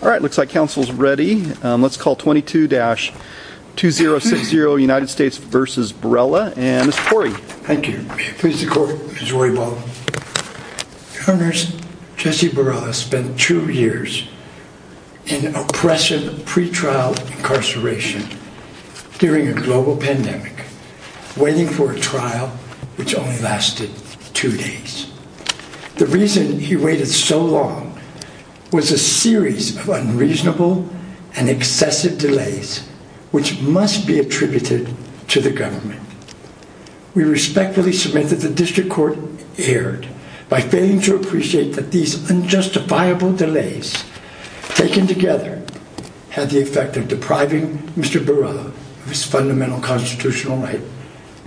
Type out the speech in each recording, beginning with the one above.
All right, looks like council's ready. Let's call 22-2060 United States v. Barela, and it's Corey. Thank you. Mr. Corey, Ms. Roybal. Your Honor, Jesse Barela spent two years in oppressive pre-trial incarceration during a global pandemic, waiting for a trial which only lasted two days. The reason he waited so long was a series of unreasonable and excessive delays which must be attributed to the government. We respectfully submit that the district court erred by failing to appreciate that these unjustifiable delays taken together had the effect of depriving Mr. Barela of his fundamental constitutional right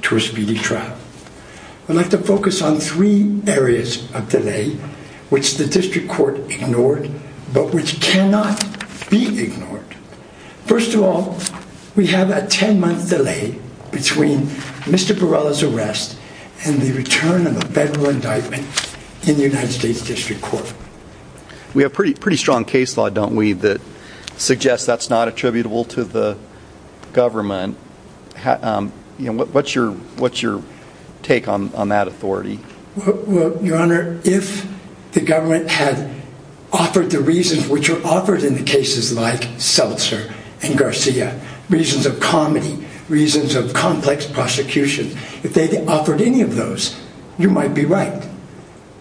to a speedy trial. I'd like to focus on three areas of delay which the district court ignored, but which cannot be ignored. First of all, we have a 10-month delay between Mr. Barela's arrest and the return of a federal indictment in the United States District Court. We have pretty strong case law, don't we, that suggests that's not attributable to the government. What's your take on that authority? Your Honor, if the government had offered the reasons which are offered in the cases like Seltzer and Garcia, reasons of comedy, reasons of complex prosecution, if they offered any of those, you might be right.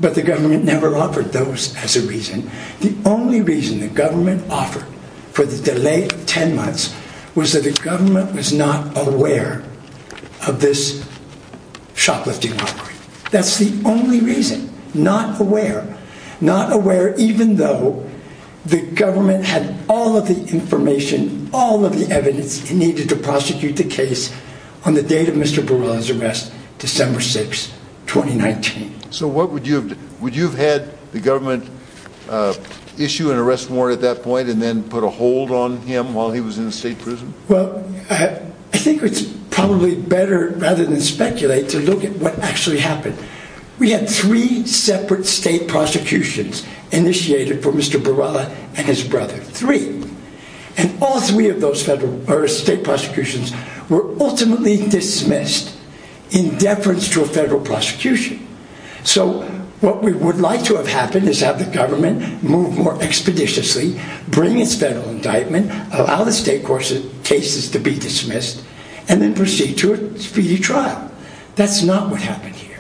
But the government never offered those as a reason. The only reason the government offered for the delay of 10 months was that the government was not aware of this shoplifting robbery. That's the only reason, not aware, not aware even though the government had all of the information, all of the evidence it needed to prosecute the case on the date of Mr. Barela's arrest, December 6, 2019. So what would you have had the government issue an arrest warrant at that point and then put a hold on him while he was in state prison? Well, I think it's probably better rather than speculate to look at what actually happened. We had three separate state prosecutions initiated for Mr. Barela and his brother, three. And all three of those federal or state prosecutions were ultimately dismissed in deference to a federal prosecution. So what we would like to have happened is have the government move more expeditiously, bring its federal indictment, allow the state court's cases to be dismissed, and then proceed to a speedy trial. That's not what happened here.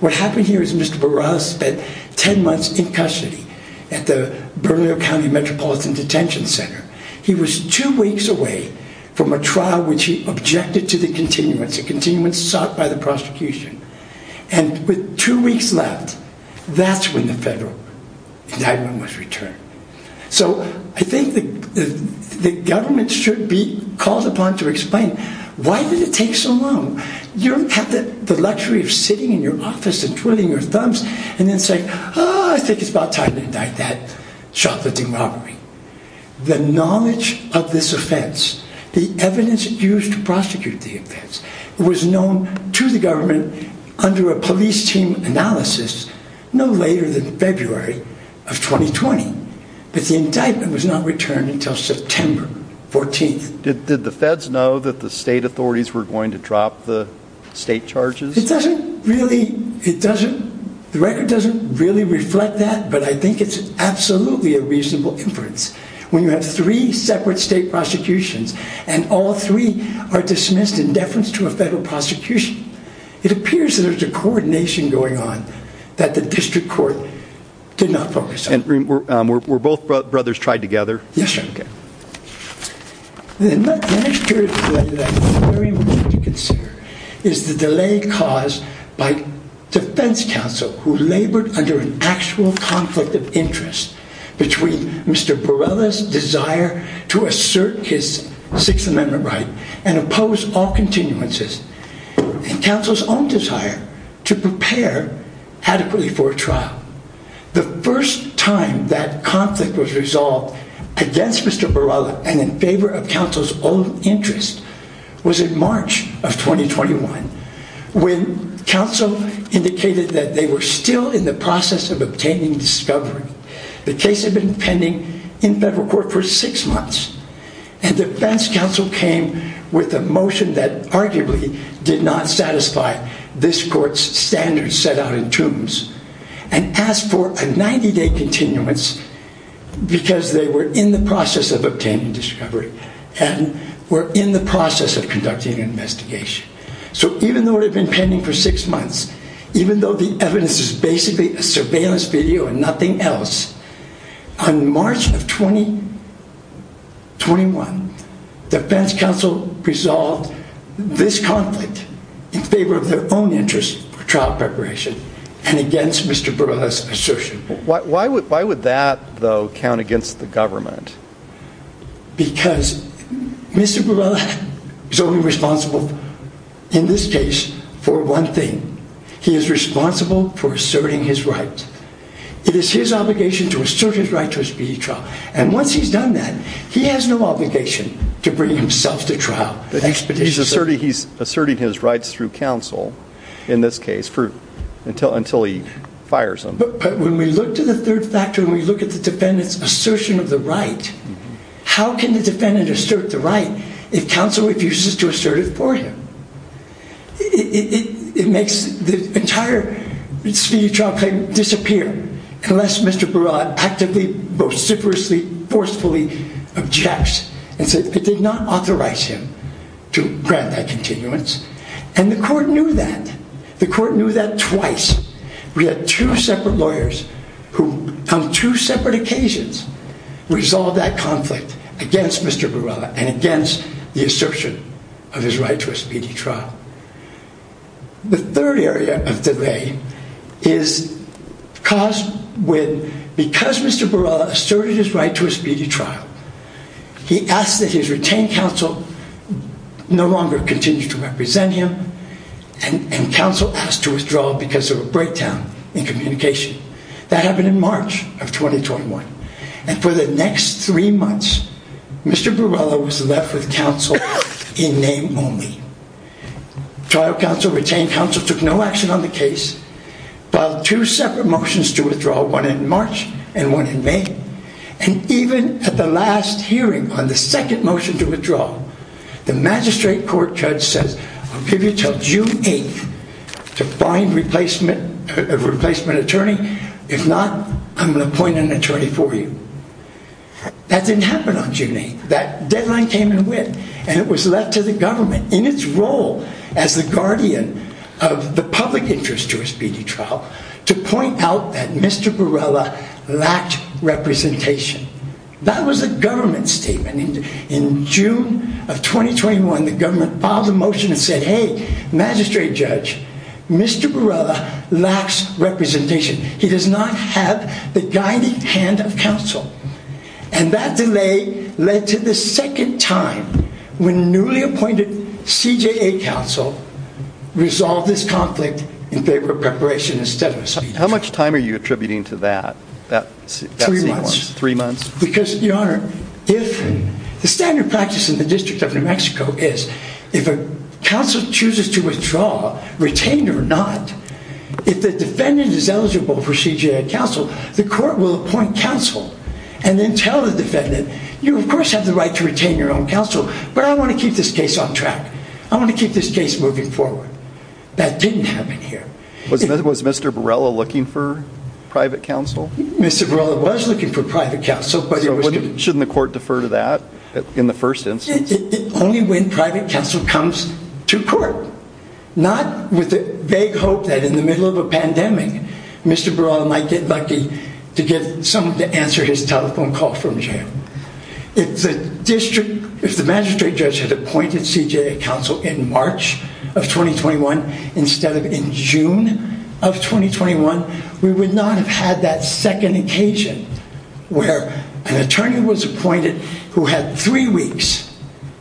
What happened here is Mr. Barela spent 10 months in custody at the Bernalillo County Metropolitan Detention Center. He was two weeks out by the prosecution. And with two weeks left, that's when the federal indictment was returned. So I think the government should be called upon to explain why did it take so long? You don't have the luxury of sitting in your office and twirling your thumbs and then say, oh, I think it's about time to indict that chocolatey robbery. The knowledge of this offense, the evidence used to prosecute the to the government under a police team analysis no later than February of 2020. But the indictment was not returned until September 14th. Did the feds know that the state authorities were going to drop the state charges? It doesn't really, it doesn't, the record doesn't really reflect that. But I think it's absolutely a reasonable inference when you have three separate state prosecutions and all three are dismissed in deference to a federal prosecution. It appears that there's a coordination going on that the district court did not focus on. Were both brothers tried together? Yes, sir. The next period of delay is the delay caused by defense counsel who labored under an assert his sixth amendment right and oppose all continuances and counsel's own desire to prepare adequately for a trial. The first time that conflict was resolved against Mr. Borrella and in favor of counsel's own interest was in March of 2021 when counsel indicated that they were still in the process of obtaining discovery. The case had been pending in federal court for six months and defense counsel came with a motion that arguably did not satisfy this court's standards set out in tombs and asked for a 90-day continuance because they were in the process of obtaining discovery and were in the process of conducting an investigation. So even though it had been pending for six months, even though the evidence is basically a surveillance video and 21 defense counsel resolved this conflict in favor of their own interest for trial preparation and against Mr. Borrella's assertion. Why would that though count against the government? Because Mr. Borrella is only responsible in this case for one thing. He is responsible for asserting his right. It is his obligation to assert his right to a speedy trial and once he's done that, he has no obligation to bring himself to trial. He's asserting his rights through counsel in this case until he fires him. But when we look to the third factor, when we look at the defendant's assertion of the right, how can the defendant assert the right if counsel refuses to assert it for him? It makes the entire speedy trial claim disappear unless Mr. Borrella actively, vociferously, forcefully objects and says it did not authorize him to grant that continuance and the court knew that. The court knew that twice. We had two separate lawyers who on two separate occasions resolved that conflict against Mr. Borrella and the assertion of his right to a speedy trial. The third area of delay is caused when because Mr. Borrella asserted his right to a speedy trial, he asked that his retained counsel no longer continue to represent him and counsel asked to withdraw because of a breakdown in communication. That happened in March of 2021 and for the next three months, Mr. Borrella was left with counsel in name only. Trial counsel, retained counsel took no action on the case, filed two separate motions to withdraw one in March and one in May and even at the last hearing on the second motion to withdraw, the magistrate court judge says I'll give you till June 8th to find a replacement attorney. If not, I'm going to appoint an attorney for you. That didn't happen on June 8th. That deadline came and went and it was left to the government in its role as the guardian of the public interest to a speedy trial to point out that Mr. Borrella lacked representation. That was a government statement. In June of 2021, the government filed a motion and said, hey, magistrate judge, Mr. Borrella lacks representation. He does not have the guiding hand of counsel and that delay led to the second time when newly appointed CJA counsel resolved this conflict in favor of preparation instead of a speedy trial. How much time are you attributing to that? Three months. Because your honor, if the standard practice in the district of New Mexico is if a counsel chooses to withdraw retained or not, if the defendant is eligible for CJA counsel, the court will appoint counsel and then tell the defendant, you of course have the right to retain your own counsel, but I want to keep this case on track. I want to keep this case moving forward. That didn't happen here. Was Mr. Borrella looking for private counsel? Mr. Borrella was looking for private counsel. Shouldn't the court defer to that in the first instance? Only when private counsel comes to court, not with the vague hope that in the middle of a pandemic, Mr. Borrella might get lucky to get someone to answer his telephone call from jail. If the district, if the magistrate judge had appointed CJA counsel in March of 2021 instead of in June of 2021, we would not have had that second occasion where an attorney was appointed who had three weeks,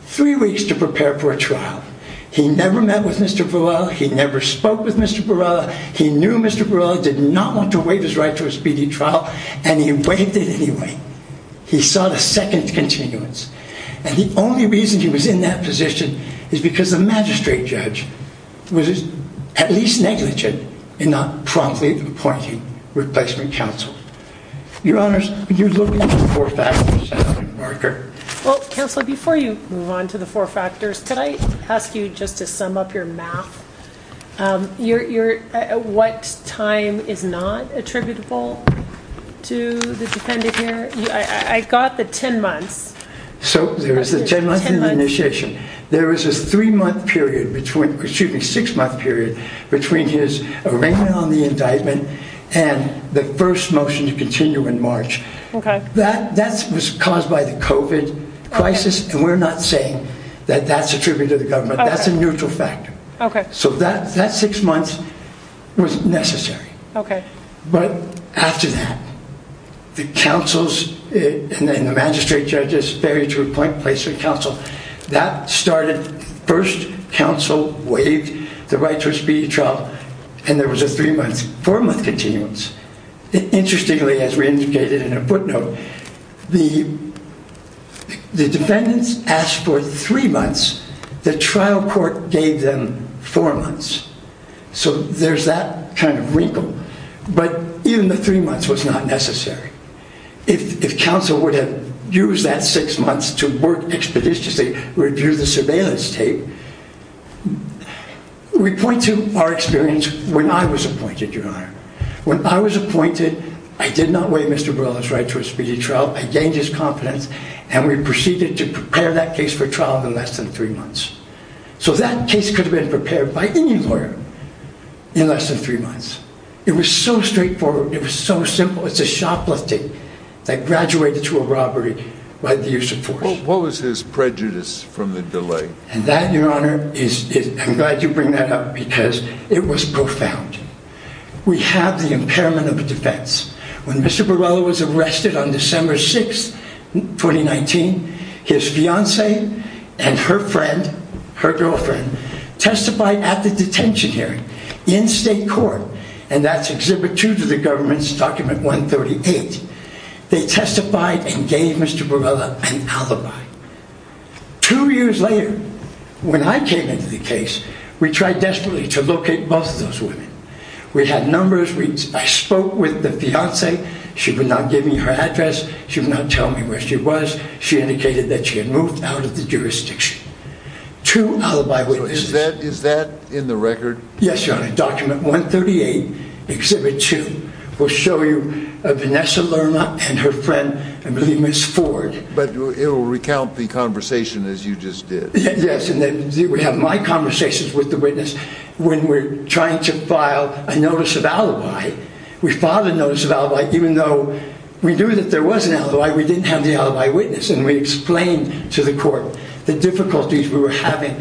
three weeks to prepare for a trial. He never met with Mr. Borrella. He never spoke with Mr. Borrella. He knew Mr. Borrella did not want to waive his right to a speedy trial and he waived it anyway. He saw the second continuance. And the only reason he was in that position is because the magistrate judge was at least negligent in not promptly appointing replacement counsel. Your honors, would you look at the four factors, Senator Barker? Well, counsel, before you move on to the four factors, could I ask you just to sum up your math? What time is not attributable to the defendant here? I got the 10 months. So there is the 10 months of initiation. There is a three month period between, excuse me, six month period between his arraignment on the indictment and the first motion to continue in March. That was caused by the COVID crisis. And we're not saying that that's attributed to the government. That's a neutral factor. So that six months was necessary. But after that, the counsels and the magistrate judges ferry to appoint placement counsel. That started first counsel waived the right to a speedy trial. And there was a three month, four month continuance. Interestingly, as we indicated in a footnote, the defendants asked for three months. The trial court gave them four months. So there's that kind of wrinkle. But even the three months was not necessary. If counsel would have used that six months to work expeditiously, review the surveillance tape. We point to our experience when I was appointed, your honor. When I was appointed, I did not waive Mr. Burrell's right to a speedy trial. I gained his confidence and we proceeded to prepare that case for trial in less than three months. So that case could have been prepared by any lawyer in less than three months. It was so straightforward. It was so simple. It's a shoplifting that graduated to a robbery by the use of force. What was his prejudice from the delay? And that your honor is, I'm glad you bring that up because it was profound. We have the impairment of defense. When Mr. Burrell was arrested on December 6th, 2019, his fiance and her friend, her girlfriend testified at the detention here in state court. And that's exhibit two to the government's document 138. They testified and gave Mr. Burrell an alibi. Two years later, when I came into the case, we tried desperately to locate both of those women. We had numbers. I spoke with the fiance. She would not give me her address. She would not tell me where she was. She indicated that she had moved out of the jurisdiction. Two alibi witnesses. Is that in the record? Yes, your honor. Document 138, exhibit two. We'll show you Vanessa Lerner and her friend, I believe Ms. Ford. But it will recount the conversation as you just did. Yes. And then we have my conversations with the witness when we're trying to file a notice of we didn't have the alibi witness. And we explained to the court the difficulties we were having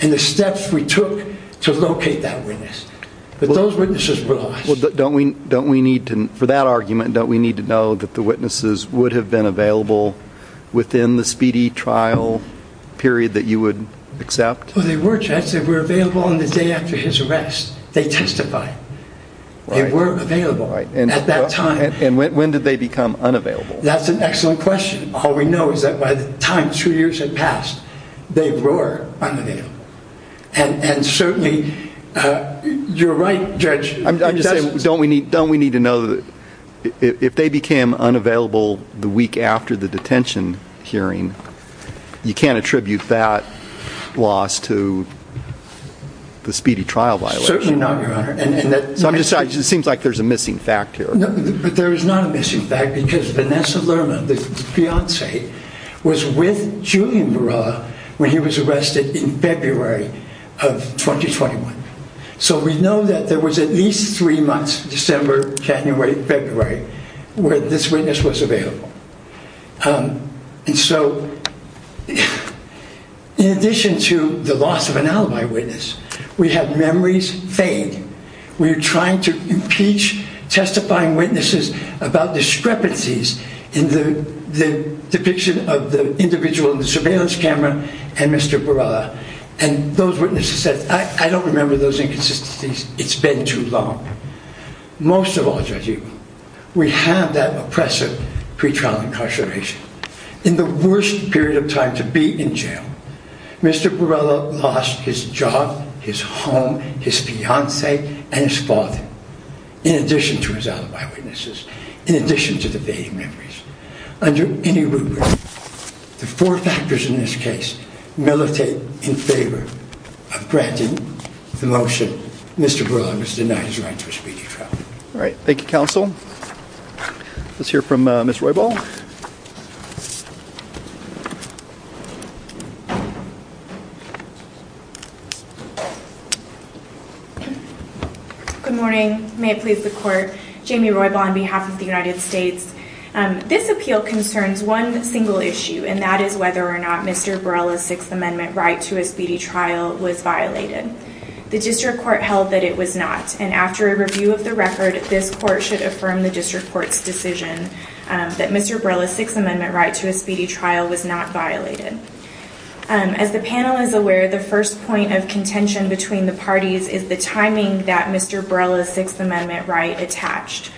and the steps we took to locate that witness. But those witnesses were lost. Well, don't we need to, for that argument, don't we need to know that the witnesses would have been available within the speedy trial period that you would accept? Oh, they were, Judge. They were available on the day after his arrest. They testified. They were available at that time. And when did they become unavailable? That's an excellent question. All we know is that by the time two years had passed, they were unavailable. And certainly, you're right, Judge. I'm just saying, don't we need, don't we need to know that if they became unavailable the week after the detention hearing, you can't attribute that loss to the speedy trial violation? Certainly not, your honor. So I'm just, it seems like there's a missing fact here. But there is not a missing fact because Vanessa Lerma, the fiancee, was with Julian Barra when he was arrested in February of 2021. So we know that there was at least three months, December, January, February, where this witness was available. And so in addition to the loss of an alibi witness, we had memories fade. We were trying to impeach testifying witnesses about discrepancies in the depiction of the individual in the surveillance camera and Mr. Borrella. And those witnesses said, I don't remember those inconsistencies. It's been too long. Most of all, Judge Eagle, we have that oppressive pre-trial incarceration. In the worst period of time to be in jail, Mr. Borrella lost his job, his home, his fiancee, and his father, in addition to his alibi witnesses, in addition to the fading memories. Under any rubric, the four factors in this case militate in favor of granting the motion, Mr. Borrella was denied his right to a speedy trial. All right. Thank you, counsel. Let's hear from Ms. Roybal. Good morning. May it please the court. Jamie Roybal on behalf of the United States. This appeal concerns one single issue, and that is whether or not Mr. Borrella's Sixth Amendment right to a speedy trial was violated. The district court held that it was not. And after a review of the record, this court should affirm the district court's decision that Mr. Borrella's Sixth Amendment right to a speedy trial was not violated. And as the panel is aware, the first point of contention between the parties is the timing that Mr. Borrella's Sixth Amendment right attached.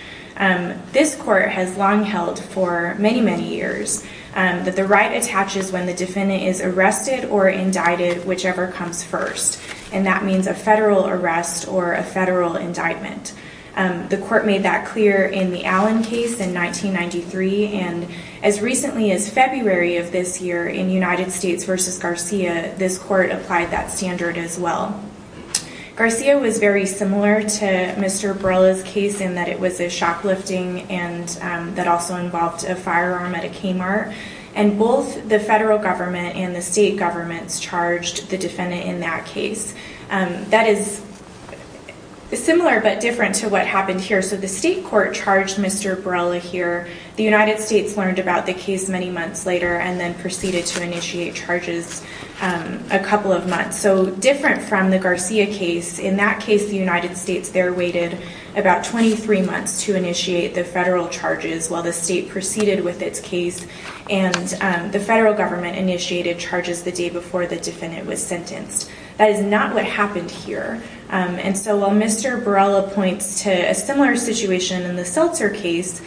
This court has long held for many, many years that the right attaches when the defendant is arrested or indicted, whichever comes first. And that means a federal arrest or a federal indictment. The court made that clear in the Allen case in 1993. And as recently as February of this year in United States versus Garcia, this court applied that standard as well. Garcia was very similar to Mr. Borrella's case in that it was a shock lifting and that also involved a firearm at a Kmart. And both the federal government and the state governments charged the defendant in that case. That is the similar but different to what happened here. So the state court charged Mr. Borrella here. The United States learned about the case many months later and then proceeded to initiate charges a couple of months. So different from the Garcia case, in that case, the United States there waited about 23 months to initiate the federal charges while the state proceeded with its case. And the federal government initiated charges the day before the defendant was sentenced. That is not what happened here. And so while Mr. Borrella points to a similar situation in the Seltzer case,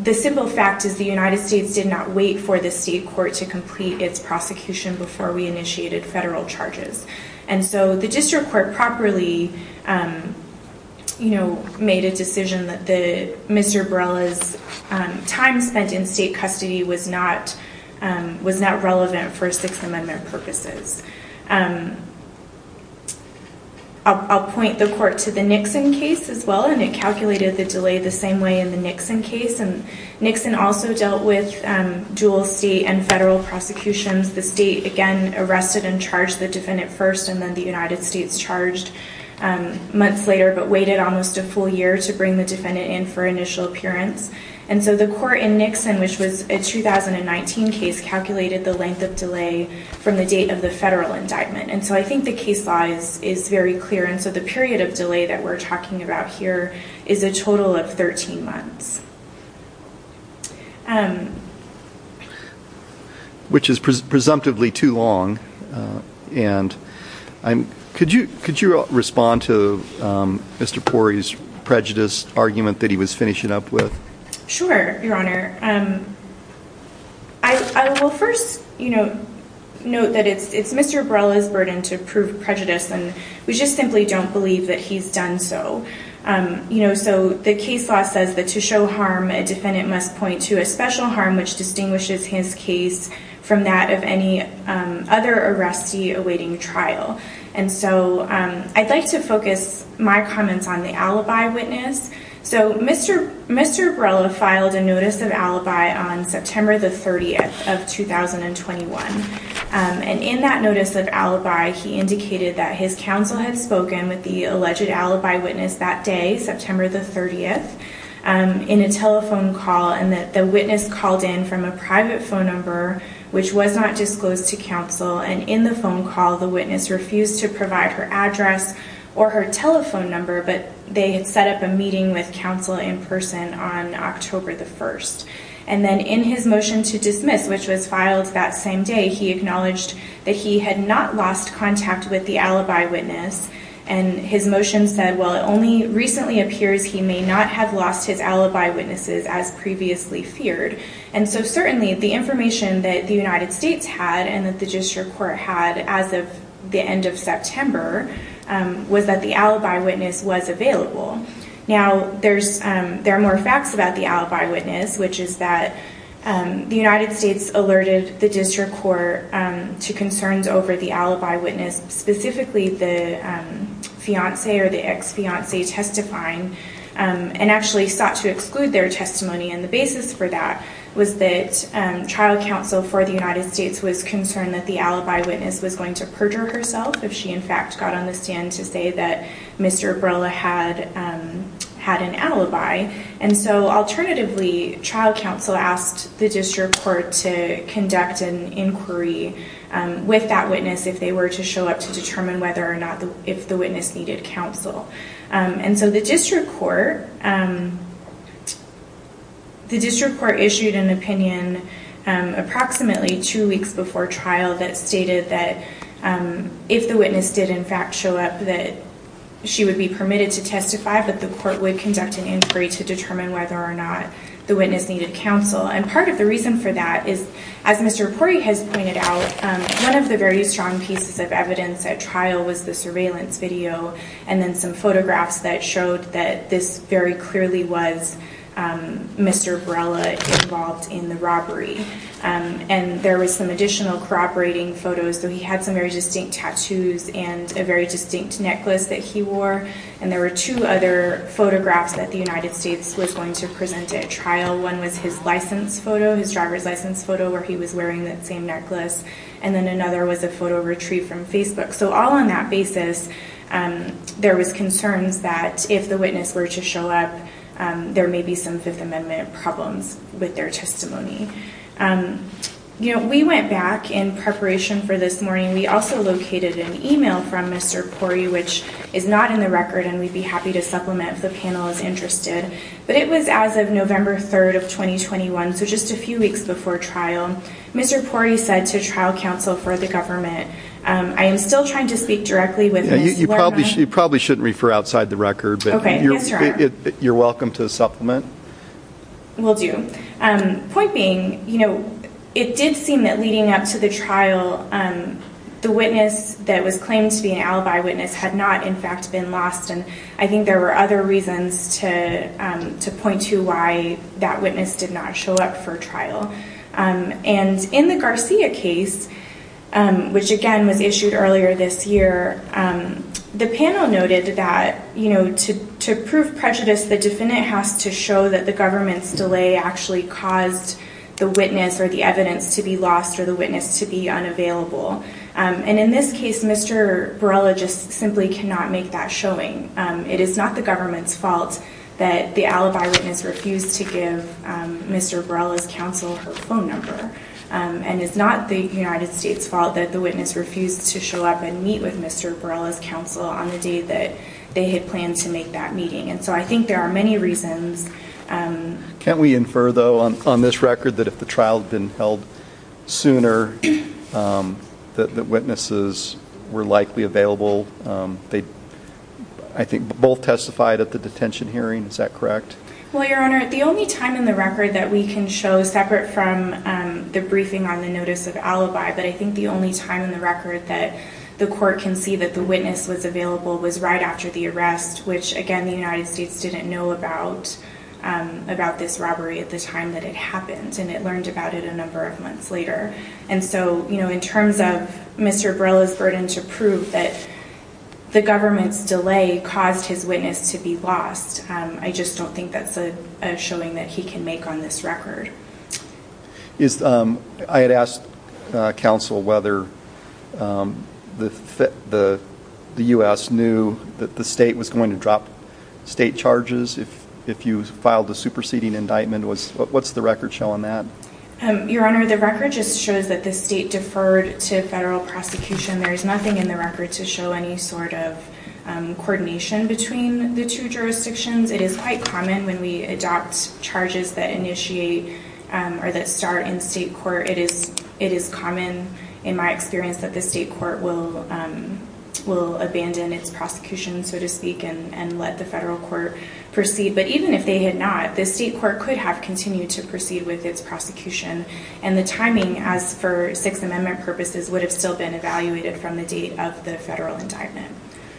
the simple fact is the United States did not wait for the state court to complete its prosecution before we initiated federal charges. And so the district court properly made a decision that Mr. Borrella's time spent in state custody was not relevant for Sixth Amendment purposes. I'll point the court to the Nixon case as well. And it calculated the delay the same way in the Nixon case. And Nixon also dealt with dual state and federal prosecutions. The state again arrested and charged the defendant first and then the United States charged months later but waited almost a full year to bring the defendant in for initial appearance. And so the court in Nixon, which was a 2019 case, calculated the length of delay from the date of the federal indictment. And so I think the case size is very clear. And so the period of delay that we're talking about here is a total of 13 months. Which is presumptively too long. And could you respond to Mr. Pori's prejudice argument that he was finishing up with? Sure, Your Honor. I will first note that it's Mr. Borrella's burden to prove prejudice. And we just simply don't believe that he's done so. So the case law says that to show harm, a defendant must point to a special harm which distinguishes his case from that of any other arrestee awaiting trial. And so I'd like to focus my comments on the alibi witness. So Mr. Borrella filed a notice of alibi on September the 30th of 2021. And in that notice of alibi, he indicated that his counsel had spoken with the alleged alibi witness that day, September the 30th, in a telephone call. And that the witness called in from a private phone number which was not disclosed to counsel. And in the phone call, the witness refused to provide her address or her telephone number. But they had set up a meeting with counsel in person on October the 1st. And then in his motion to dismiss, which was filed that same day, he acknowledged that he had not lost contact with the alibi witness. And his motion said, well, it only recently appears he may not have lost his alibi witnesses as previously feared. And so certainly the information that the United States had and that the district court had as of end of September was that the alibi witness was available. Now, there are more facts about the alibi witness, which is that the United States alerted the district court to concerns over the alibi witness, specifically the fiance or the ex-fiance testifying, and actually sought to exclude their testimony. And the basis for that was that trial counsel for the United States was going to perjure herself if she, in fact, got on the stand to say that Mr. Abrela had an alibi. And so alternatively, trial counsel asked the district court to conduct an inquiry with that witness if they were to show up to determine whether or not if the witness needed counsel. And so the district court issued an opinion approximately two weeks before trial that stated that if the witness did, in fact, show up that she would be permitted to testify, but the court would conduct an inquiry to determine whether or not the witness needed counsel. And part of the reason for that is, as Mr. Pori has pointed out, one of the very strong pieces of evidence at trial was the surveillance video and then some photographs that showed that this very clearly was Mr. Abrela involved in the robbery. And there was some additional corroborating photos. So he had some very distinct tattoos and a very distinct necklace that he wore. And there were two other photographs that the United States was going to present at trial. One was his license photo, his driver's license photo, where he was wearing that same necklace. And then another was a photo retrieved from Facebook. So all on that basis, there was concerns that if the witness were to show up, there may be some Fifth Amendment problems with their testimony. You know, we went back in preparation for this morning. We also located an email from Mr. Pori, which is not in the record, and we'd be happy to supplement if the panel is interested. But it was as of November 3rd of 2021. So just a few weeks before trial, Mr. Pori said to trial counsel for the government, I am still trying to speak directly with you. You probably shouldn't refer outside the record, but you're welcome to supplement. We'll do. Point being, you know, it did seem that leading up to the trial, the witness that was claimed to be an alibi witness had not in fact been lost. And I think there were other reasons to point to why that witness did not show up for trial. And in the Garcia case, which again was issued earlier this year, the panel noted that, you know, to prove prejudice, the defendant has to show that the government's delay actually caused the witness or the evidence to be lost or the witness to be unavailable. And in this case, Mr. Borrella just simply cannot make that showing. It is not the government's fault that the alibi witness refused to give Mr. Borrella's counsel her phone number. And it's not the United States' fault that the witness refused to show up and meet with Mr. Borrella's counsel on the day that they had planned to make that meeting. And so I think there are many reasons. Can we infer though on this record that if the trial had been held sooner, that witnesses were likely available? They, I think both testified at the detention hearing. Is that correct? Well, your honor, the only time in the record that we can show separate from the briefing on the notice of alibi, but I think the only time in the record that the court can see that the witness was available was right after the arrest, which again, the United States didn't know about, about this robbery at the time that it happened. And it learned about it a number of months later. And so, you know, in terms of Mr. Borrella's burden to prove that the government's delay caused his witness to be lost, I just don't think that's a showing that he can make on this record. Is, I had asked counsel whether the U.S. knew that the state was going to drop state charges if you filed a superseding indictment. What's the record showing that? Your honor, the record just shows that the state deferred to federal prosecution. There's nothing in the record to show any sort of coordination between the two jurisdictions. It is quite common when we adopt charges that initiate or that start in state court. It is, it is common in my experience that the state court will, will abandon its prosecution, so to speak, and, and let the federal court proceed. But even if they had not, the state court could have continued to proceed with its prosecution. And the timing as for six amendment purposes would have still been evaluated from the date of the federal indictment.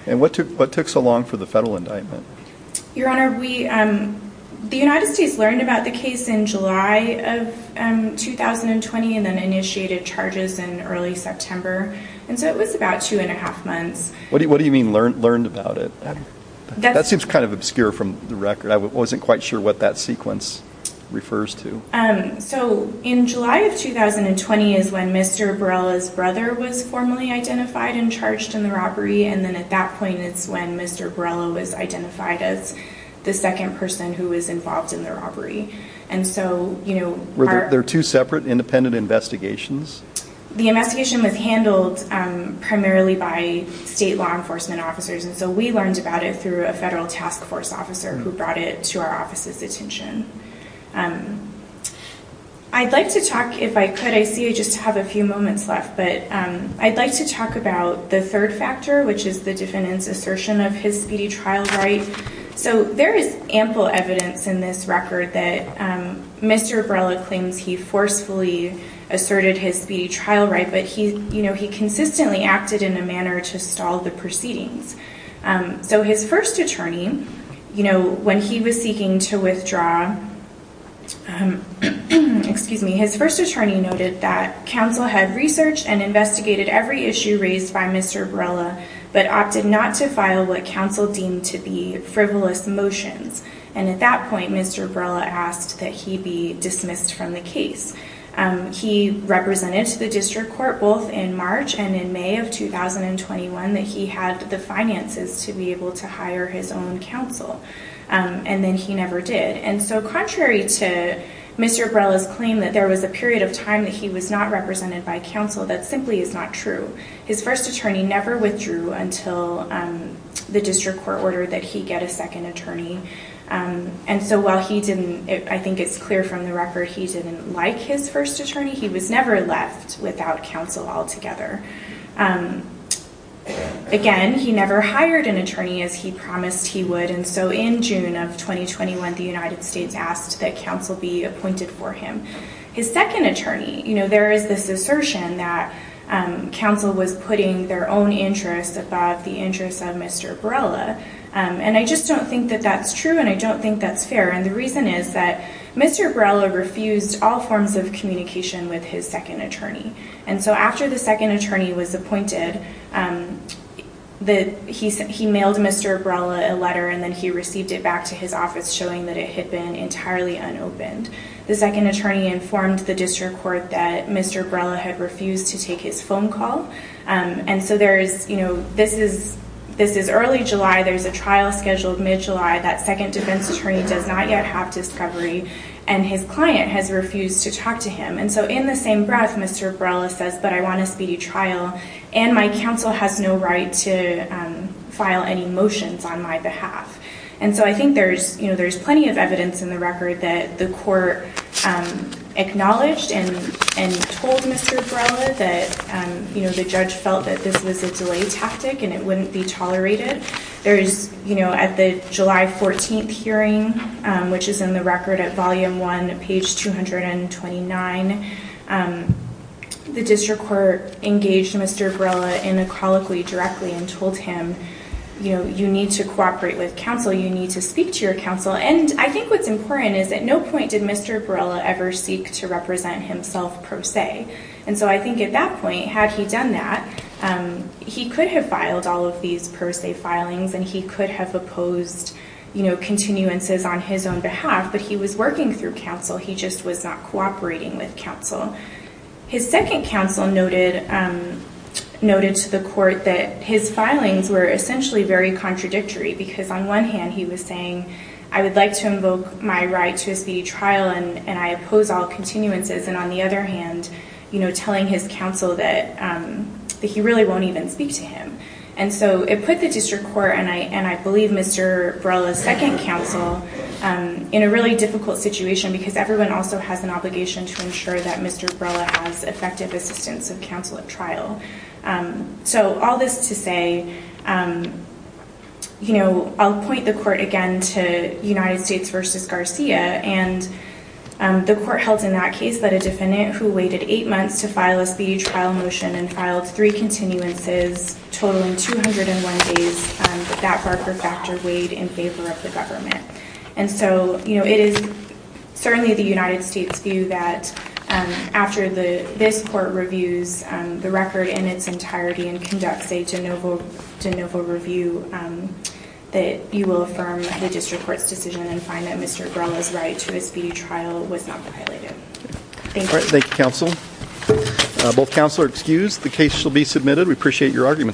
And what took, what took so long for the federal indictment? Your honor, we, the United States learned about the case in July of 2020 and then initiated charges in early September. And so it was about two and a half months. What do you, what do you mean learned, learned about it? That seems kind of obscure from the record. I wasn't quite sure what that sequence refers to. So in July of 2020 is when Mr. Borrella's brother was formally identified and charged in the robbery. And then at that point it's when Mr. Borrella was identified as the second person who was involved in the robbery. And so, you know, Were there two separate independent investigations? The investigation was handled primarily by state law enforcement officers. And so we learned about it through a federal task force officer who brought it to our office's attention. I'd like to talk, if I could, I see I just have a few moments left, but I'd like to talk about the third factor, which is the defendant's assertion of his speedy trial right. So there is ample evidence in this record that Mr. Borrella claims he forcefully asserted his speedy trial right, but he, you know, he consistently acted in a manner to stall the proceedings. So his first attorney, you know, when he was seeking to withdraw, excuse me, his first attorney noted that counsel had researched and investigated every issue raised by Mr. Borrella, but opted not to file what counsel deemed to be frivolous motions. And at that point, Mr. Borrella asked that he be dismissed from the case. He represented to the district court, both in March and in May of 2021, that he had the finances to be able to hire his own counsel. And then he never did. And so contrary to Mr. Borrella's claim that there was a period of time that he was not represented by counsel, that simply is not true. His first attorney never withdrew until the district court ordered that he get a second attorney. And so while he didn't, I think it's clear from the record, he didn't like his first attorney. He was never left without counsel altogether. Again, he never hired an attorney as he promised he would. And so in June of 2021, the United States asked that counsel be appointed for him. His second attorney, you know, there is this assertion that counsel was putting their own interests above the interests of Mr. Borrella. And I just don't think that that's true. And I don't think that's fair. And the reason is that Mr. Borrella refused all forms of communication with his second attorney. And so after the second attorney was appointed, he mailed Mr. Borrella a letter and he received it back to his office showing that it had been entirely unopened. The second attorney informed the district court that Mr. Borrella had refused to take his phone call. And so there is, you know, this is early July. There's a trial scheduled mid-July. That second defense attorney does not yet have discovery. And his client has refused to talk to him. And so in the same breath, Mr. Borrella says, but I want a speedy trial and my counsel has no right to file any motions on my behalf. And so I think there's, you know, there's plenty of evidence in the record that the court acknowledged and told Mr. Borrella that, you know, the judge felt that this was a delay tactic and it wouldn't be tolerated. There's, you know, at the July 14th hearing, which is in the record at volume one, page 229, the district court engaged Mr. Borrella inequally directly and told him, you know, you need to cooperate with counsel. You need to speak to your counsel. And I think what's important is at no point did Mr. Borrella ever seek to represent himself per se. And so I think at that point, had he done that, he could have filed all of these per se filings and he could have opposed, you know, continuances on his own behalf, but he was working through counsel. He just was not cooperating with counsel. His second counsel noted to the court that his filings were essentially very contradictory because on one hand he was saying, I would like to invoke my right to a speedy trial and I oppose all continuances. And on the other hand, you know, telling his counsel that he really won't even speak to him. And so it put the district court and I believe Mr. Borrella's second counsel in a really difficult situation because everyone also has an obligation to ensure that Mr. Borrella has effective assistance of counsel at trial. So all this to say, you know, I'll point the court again to United States versus Garcia and the court held in that case that a defendant who waited eight months to file a speedy trial motion and filed three continuances totaling 201 days, that Barker factor weighed in favor of the government. And so, you know, it is certainly the United States view that after this court reviews the record in its entirety and conducts a de novo review that you will affirm the district court's decision and find that Mr. Borrella's right to a speedy trial was not violated. Thank you. All right. Thank you, counsel. Both counsel are excused. The case shall be submitted. We appreciate your argument.